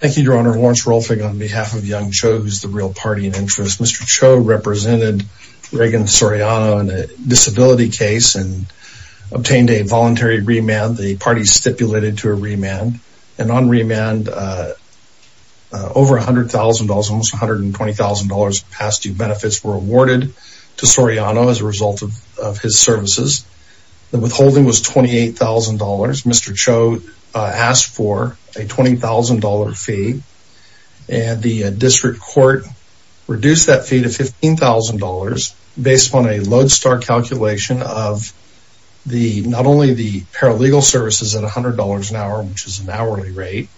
Thank you, Your Honor. Lawrence Rolfing on behalf of Young Cho, who's the real party in interest. Mr. Cho represented Ragan Soriano in a disability case and obtained a voluntary remand. The party stipulated to a remand. And on remand, over $100,000, almost $120,000 in past-due benefits were awarded to Soriano as a result of his services. The withholding was $28,000. Mr. Cho asked for a $20,000 fee. And the district court reduced that fee to $15,000 based on a Lodestar calculation of not only the paralegal services at $100 an hour, which is an hourly rate,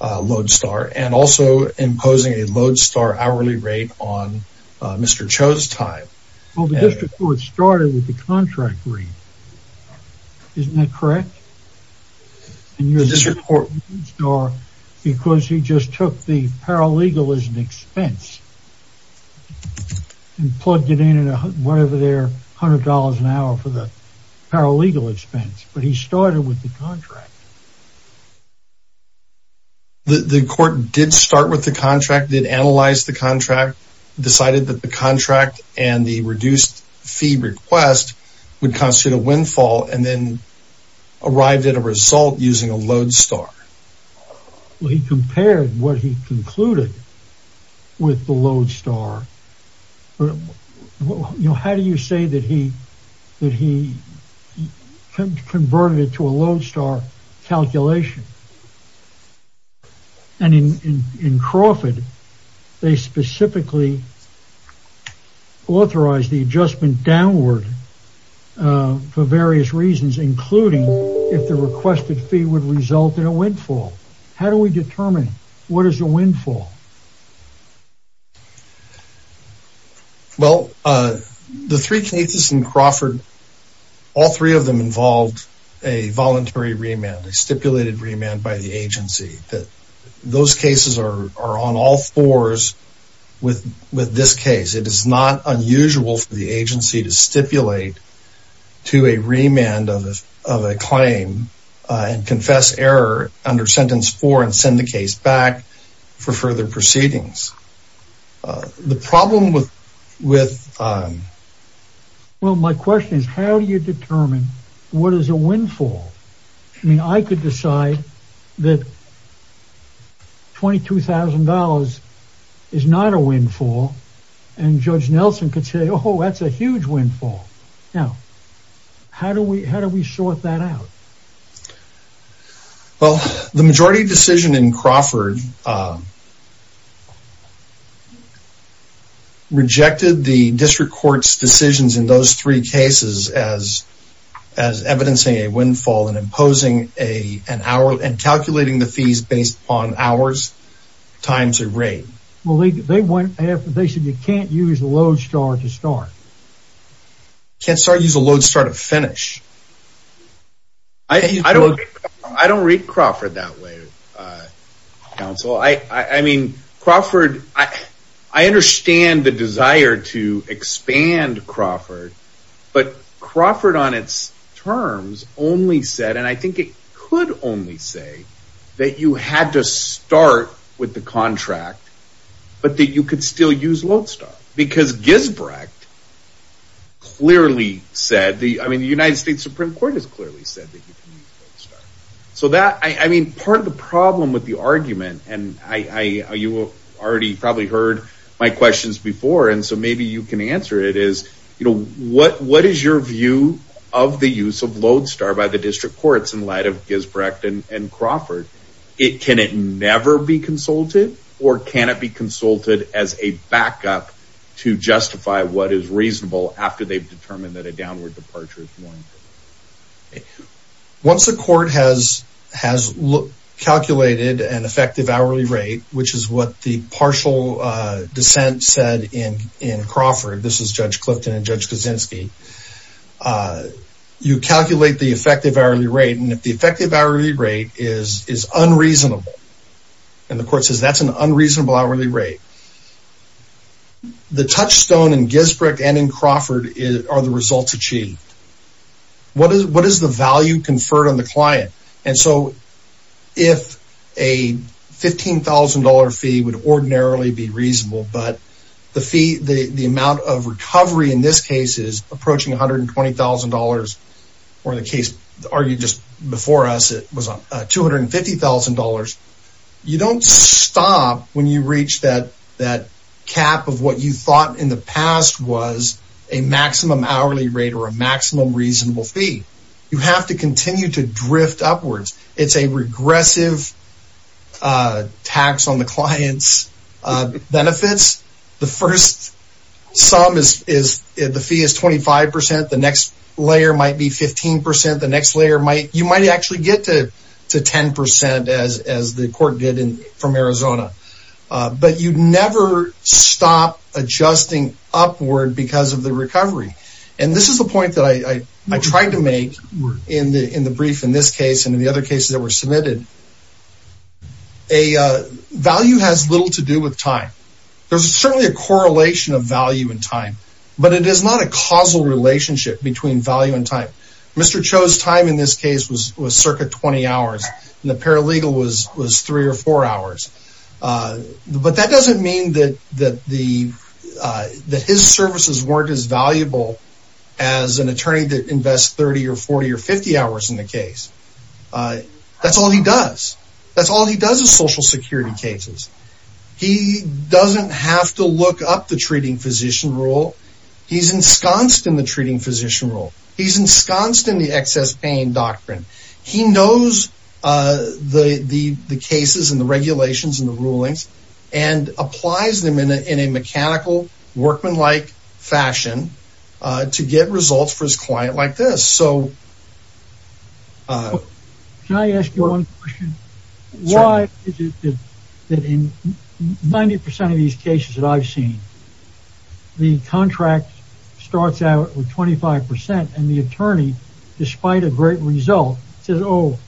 Lodestar, and also imposing a Lodestar hourly rate on Mr. Cho's time. Well, the district court started with the contract rate. Isn't that correct? The district court... Because he just took the paralegal as an expense and plugged it in at whatever their $100 an hour for the paralegal expense. But he started with the contract. The court did start with the contract, did analyze the contract, decided that the contract and the reduced fee request would constitute a windfall, and then arrived at a result using a Lodestar. He compared what he concluded with the Lodestar. How do you say that he converted it to a Lodestar calculation? And in Crawford, they specifically authorized the adjustment downward for various reasons, including if the requested fee would result in a windfall. How do we determine what is a windfall? Well, the three cases in Crawford, all three of them involved a voluntary remand, a stipulated remand by the agency. Those cases are on all fours with this case. It is not unusual for the agency to stipulate to a remand of a claim and confess error under sentence four and send the case back for further proceedings. Well, my question is, how do you determine what is a windfall? I mean, I could decide that $22,000 is not a windfall, and Judge Nelson could say, oh, that's a huge windfall. Now, how do we sort that out? Well, the majority decision in Crawford rejected the district court's decisions in those three cases as evidencing a windfall and imposing an hour and calculating the fees based on hours times a rate. They said you can't use a Lodestar to start. You can't use a Lodestar to finish. I don't read Crawford that way, counsel. I mean, Crawford, I understand the desire to expand Crawford, but Crawford on its terms only said, and I think it could only say, that you had to start with the contract, but that you could still use Lodestar. Because Gisbrecht clearly said, I mean, the United States Supreme Court has clearly said that you can use Lodestar. Once the court has calculated an effective hourly rate, which is what the partial dissent said in Crawford, this is Judge Clifton and Judge Kaczynski, you calculate the effective hourly rate, and if the effective hourly rate is unreasonable, and the court says that's an unreasonable hourly rate, the touchstone in Gisbrecht and in Crawford are the results achieved. What does the value conferred on the client? And so if a $15,000 fee would ordinarily be reasonable, but the amount of recovery in this case is approaching $120,000, or in the case argued just before us, it was $250,000, you don't stop when you reach that cap of what you thought in the past was a maximum hourly rate or a maximum reasonable fee. You have to continue to drift upwards. It's a regressive tax on the client's benefits. The first sum is, the fee is 25%, the next layer might be 15%, the next layer might, you might actually get to 10% as the court did from Arizona. But you never stop adjusting upward because of the recovery. And this is the point that I tried to make in the brief in this case and in the other cases that were submitted. A value has little to do with time. There's certainly a correlation of value and time, but it is not a causal relationship between value and time. Mr. Cho's time in this case was circa 20 hours, and the paralegal was three or four hours. But that doesn't mean that his services weren't as valuable as an attorney that invests 30 or 40 or 50 hours in the case. That's all he does. That's all he does is social security cases. He doesn't have to look up the treating physician rule. He's ensconced in the treating physician rule. He's ensconced in the excess pain doctrine. He knows the cases and the regulations and the rulings and applies them in a mechanical, workmanlike fashion to get results for his client like this. Can I ask you one question? Why is it that in 90% of these cases that I've seen, the contract starts out with 25% and the attorney, despite a great result, says, oh,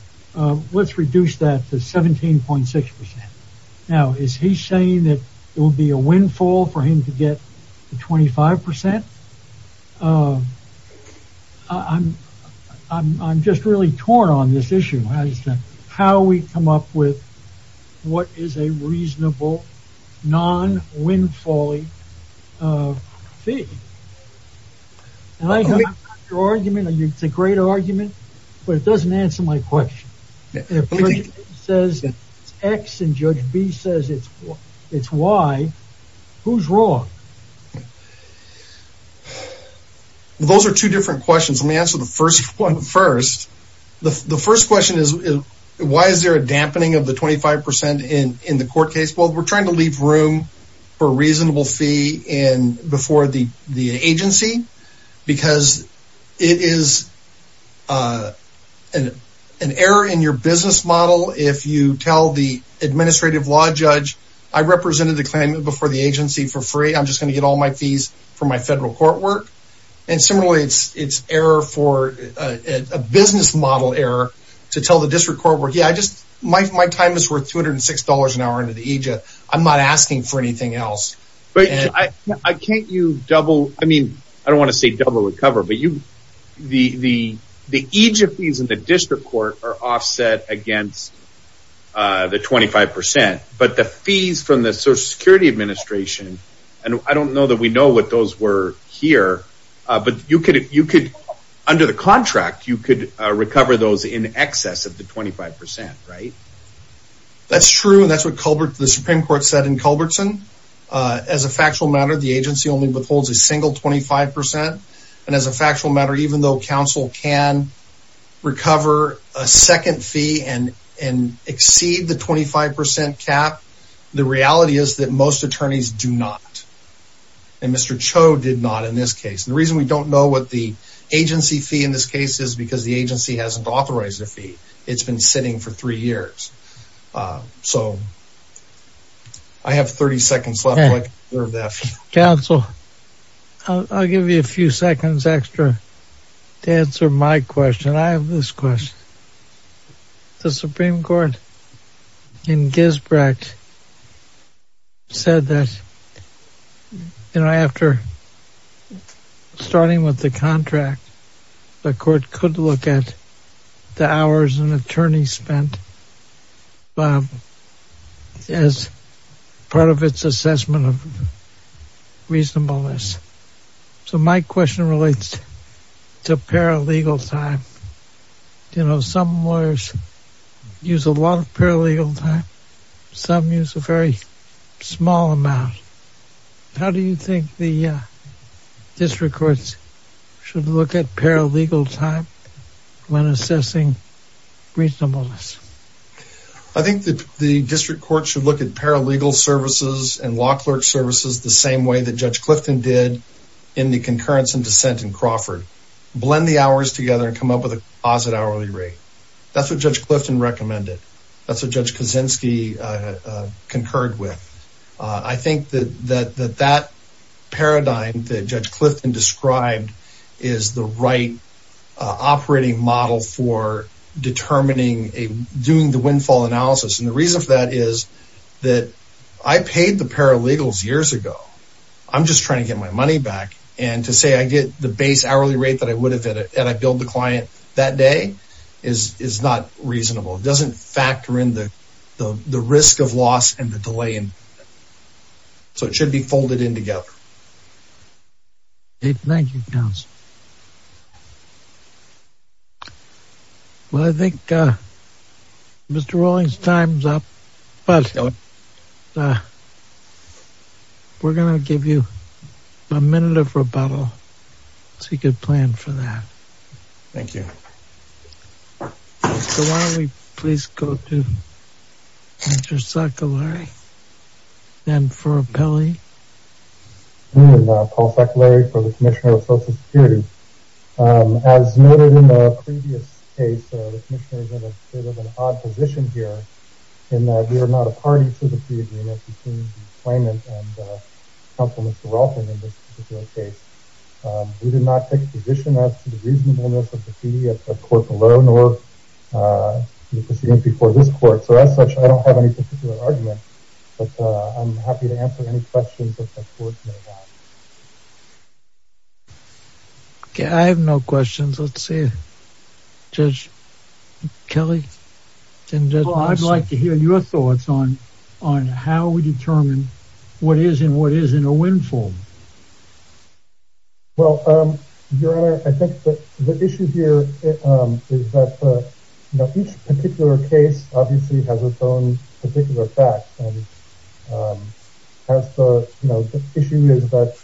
let's reduce that to 17.6%. Now, is he saying that it will be a windfall for him to get the 25%? I'm just really torn on this issue as to how we come up with what is a reasonable, non-windfalling fee. It's a great argument, but it doesn't answer my question. If Judge A says it's X and Judge B says it's Y, who's wrong? Those are two different questions. Let me answer the first one first. The first question is why is there a dampening of the 25% in the court case? Well, we're trying to leave room for a reasonable fee before the agency because it is an error in your business model if you tell the administrative law judge, I represented the claimant before the agency for free. I'm just going to get all my fees from my federal court work. Similarly, it's a business model error to tell the district court work, yeah, my time is worth $206 an hour under the AJA. I'm not asking for anything else. I don't want to say double the cover, but the AJA fees in the district court are offset against the 25%. The fees from the Social Security Administration, and I don't know that we know what those were here, but under the contract, you could recover those in excess of the 25%, right? That's true, and that's what the Supreme Court said in Culbertson. As a factual matter, the agency only withholds a single 25%. And as a factual matter, even though counsel can recover a second fee and exceed the 25% cap, the reality is that most attorneys do not. And Mr. Cho did not in this case. The reason we don't know what the agency fee in this case is because the agency hasn't authorized a fee. It's been sitting for three years. So I have 30 seconds left. Counsel, I'll give you a few seconds extra to answer my question. I have this question. The Supreme Court in Gisbrecht said that, you know, after starting with the contract, the court could look at the hours an attorney spent as part of its assessment of reasonableness. So my question relates to paralegal time. You know, some lawyers use a lot of paralegal time. Some use a very small amount. How do you think the district courts should look at paralegal time when assessing reasonableness? I think that the district courts should look at paralegal services and law clerk services the same way that Judge Clifton did in the concurrence and dissent in Crawford. Blend the hours together and come up with a closet hourly rate. That's what Judge Clifton recommended. That's what Judge Kaczynski concurred with. I think that that paradigm that Judge Clifton described is the right operating model for determining, doing the windfall analysis. And the reason for that is that I paid the paralegals years ago. I'm just trying to get my money back. And to say I get the base hourly rate that I would have had and I billed the client that day is not reasonable. It doesn't factor in the risk of loss and the delay. So it should be folded in together. Thank you, counsel. Well, I think Mr. Rowling's time's up, but we're going to give you a minute of rebuttal. So you could plan for that. Thank you. So why don't we please go to Mr. Saccolari and for appellee. I'm Paul Saccolari for the Commissioner of Social Security. As noted in the previous case, the commissioner is in a bit of an odd position here in that we are not a party to the agreement between the claimant and counsel Mr. Rowling in this particular case. We did not take a position as to the reasonableness of the fee at court below nor the proceedings before this court. So as such, I don't have any particular argument, but I'm happy to answer any questions that the court may have. I have no questions. Let's see. Judge Kelly, I'd like to hear your thoughts on how we determine what is and what isn't a windfall. Well, Your Honor, I think the issue here is that each particular case obviously has its own particular facts. The issue is that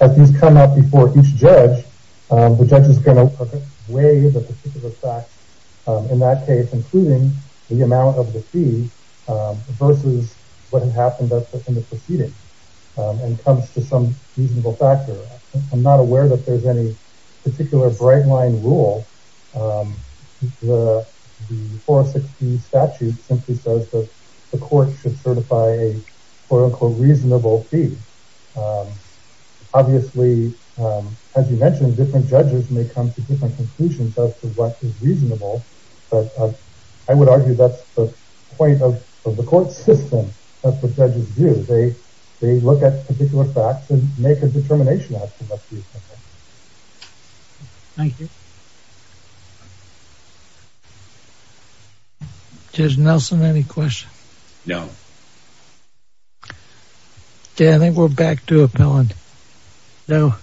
as these come up before each judge, the judge is going to weigh the particular facts in that case, including the amount of the fee versus what had happened in the proceeding and comes to some reasonable factor. I'm not aware that there's any particular break line rule. The 416 statute simply says that the court should certify a reasonable fee. Obviously, as you mentioned, different judges may come to different conclusions as to what is reasonable. But I would argue that's the point of the court system that the judges do. They look at particular facts and make a determination. Thank you. Judge Nelson, any questions? No. Okay, I think we're back to appellant. I'll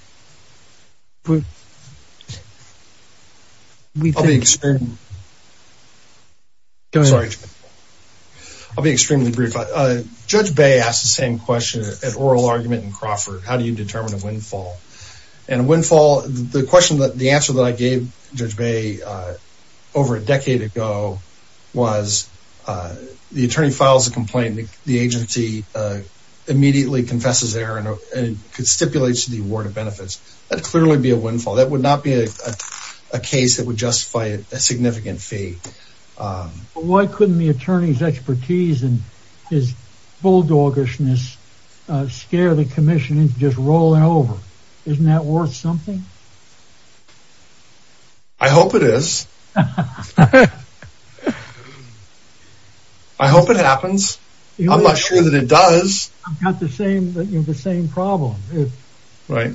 be extremely brief. Judge Bay asked the same question at oral argument in Crawford. How do you determine a windfall? The answer that I gave Judge Bay over a decade ago was the attorney files a complaint, the agency immediately confesses error and stipulates the award of benefits. That would clearly be a windfall. That would not be a case that would justify a significant fee. Why couldn't the attorney's expertise and his bulldoggishness scare the commission into just rolling over? Isn't that worth something? I hope it is. I hope it happens. I'm not sure that it does. I've got the same problem. Right.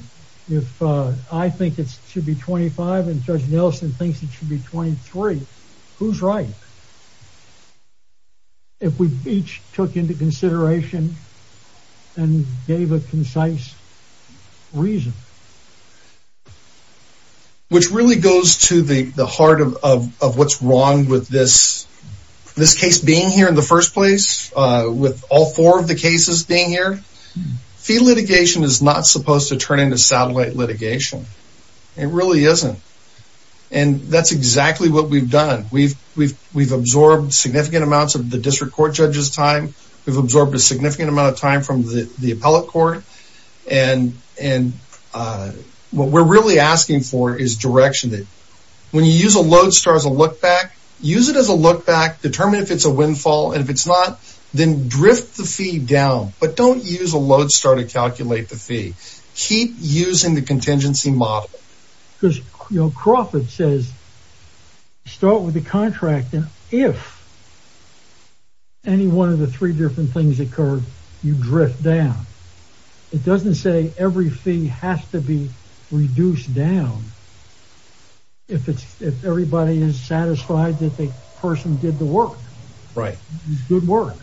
If I think it should be 25 and Judge Nelson thinks it should be 23, who's right? If we each took into consideration and gave a concise reason. Which really goes to the heart of what's wrong with this case being here in the first place, with all four of the cases being here. Fee litigation is not supposed to turn into satellite litigation. It really isn't. And that's exactly what we've done. We've absorbed significant amounts of the district court judge's time. We've absorbed a significant amount of time from the appellate court. And what we're really asking for is direction. When you use a load star as a look back, use it as a look back. Determine if it's a windfall. And if it's not, then drift the fee down. But don't use a load star to calculate the fee. Keep using the contingency model. Because Crawford says start with the contract. And if any one of the three different things occur, you drift down. It doesn't say every fee has to be reduced down. If everybody is satisfied that the person did the work. Right. Good work.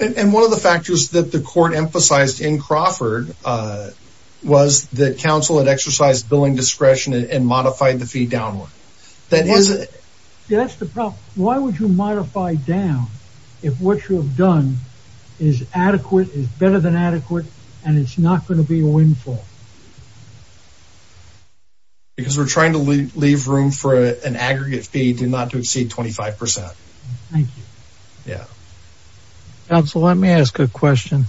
And one of the factors that the court emphasized in Crawford. Was that council had exercised billing discretion and modified the fee downward. That's the problem. Why would you modify down if what you have done is adequate, is better than adequate. And it's not going to be a windfall. Because we're trying to leave room for an aggregate fee not to exceed 25%. Thank you. Council, let me ask a question.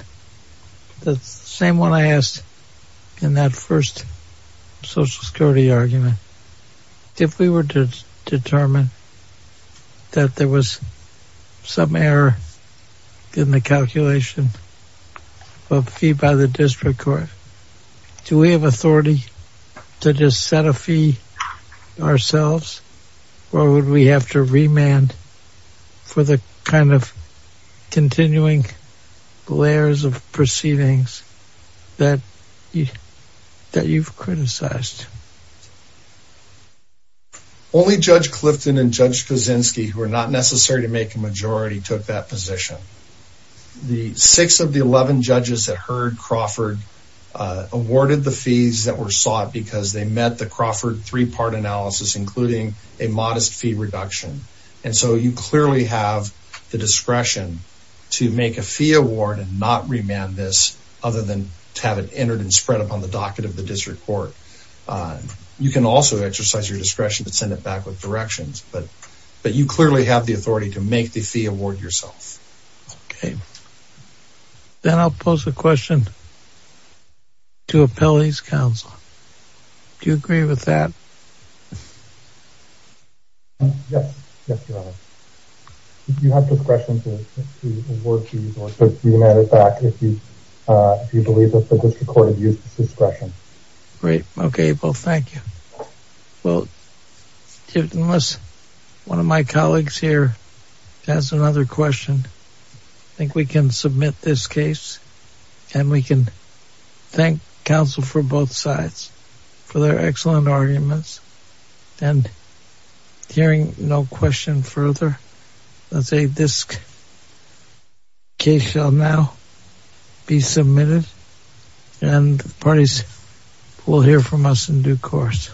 The same one I asked in that first social security argument. If we were to determine that there was some error in the calculation of fee by the district court. Do we have authority to just set a fee ourselves? Or would we have to remand for the kind of continuing layers of proceedings that you've criticized? Only Judge Clifton and Judge Kaczynski, who are not necessary to make a majority, took that position. The six of the 11 judges that heard Crawford. Awarded the fees that were sought because they met the Crawford three-part analysis, including a modest fee reduction. And so you clearly have the discretion to make a fee award and not remand this. Other than to have it entered and spread upon the docket of the district court. You can also exercise your discretion to send it back with directions. But you clearly have the authority to make the fee award yourself. Okay. Then I'll pose a question to Appellee's Council. Do you agree with that? Yes. You have discretion to award fees or to remand it back if you believe that the district court has used this discretion. Great. Okay. Well, thank you. Well, unless one of my colleagues here has another question, I think we can submit this case. And we can thank counsel for both sides for their excellent arguments. And hearing no question further, let's say this case shall now be submitted. And the parties will hear from us in due course.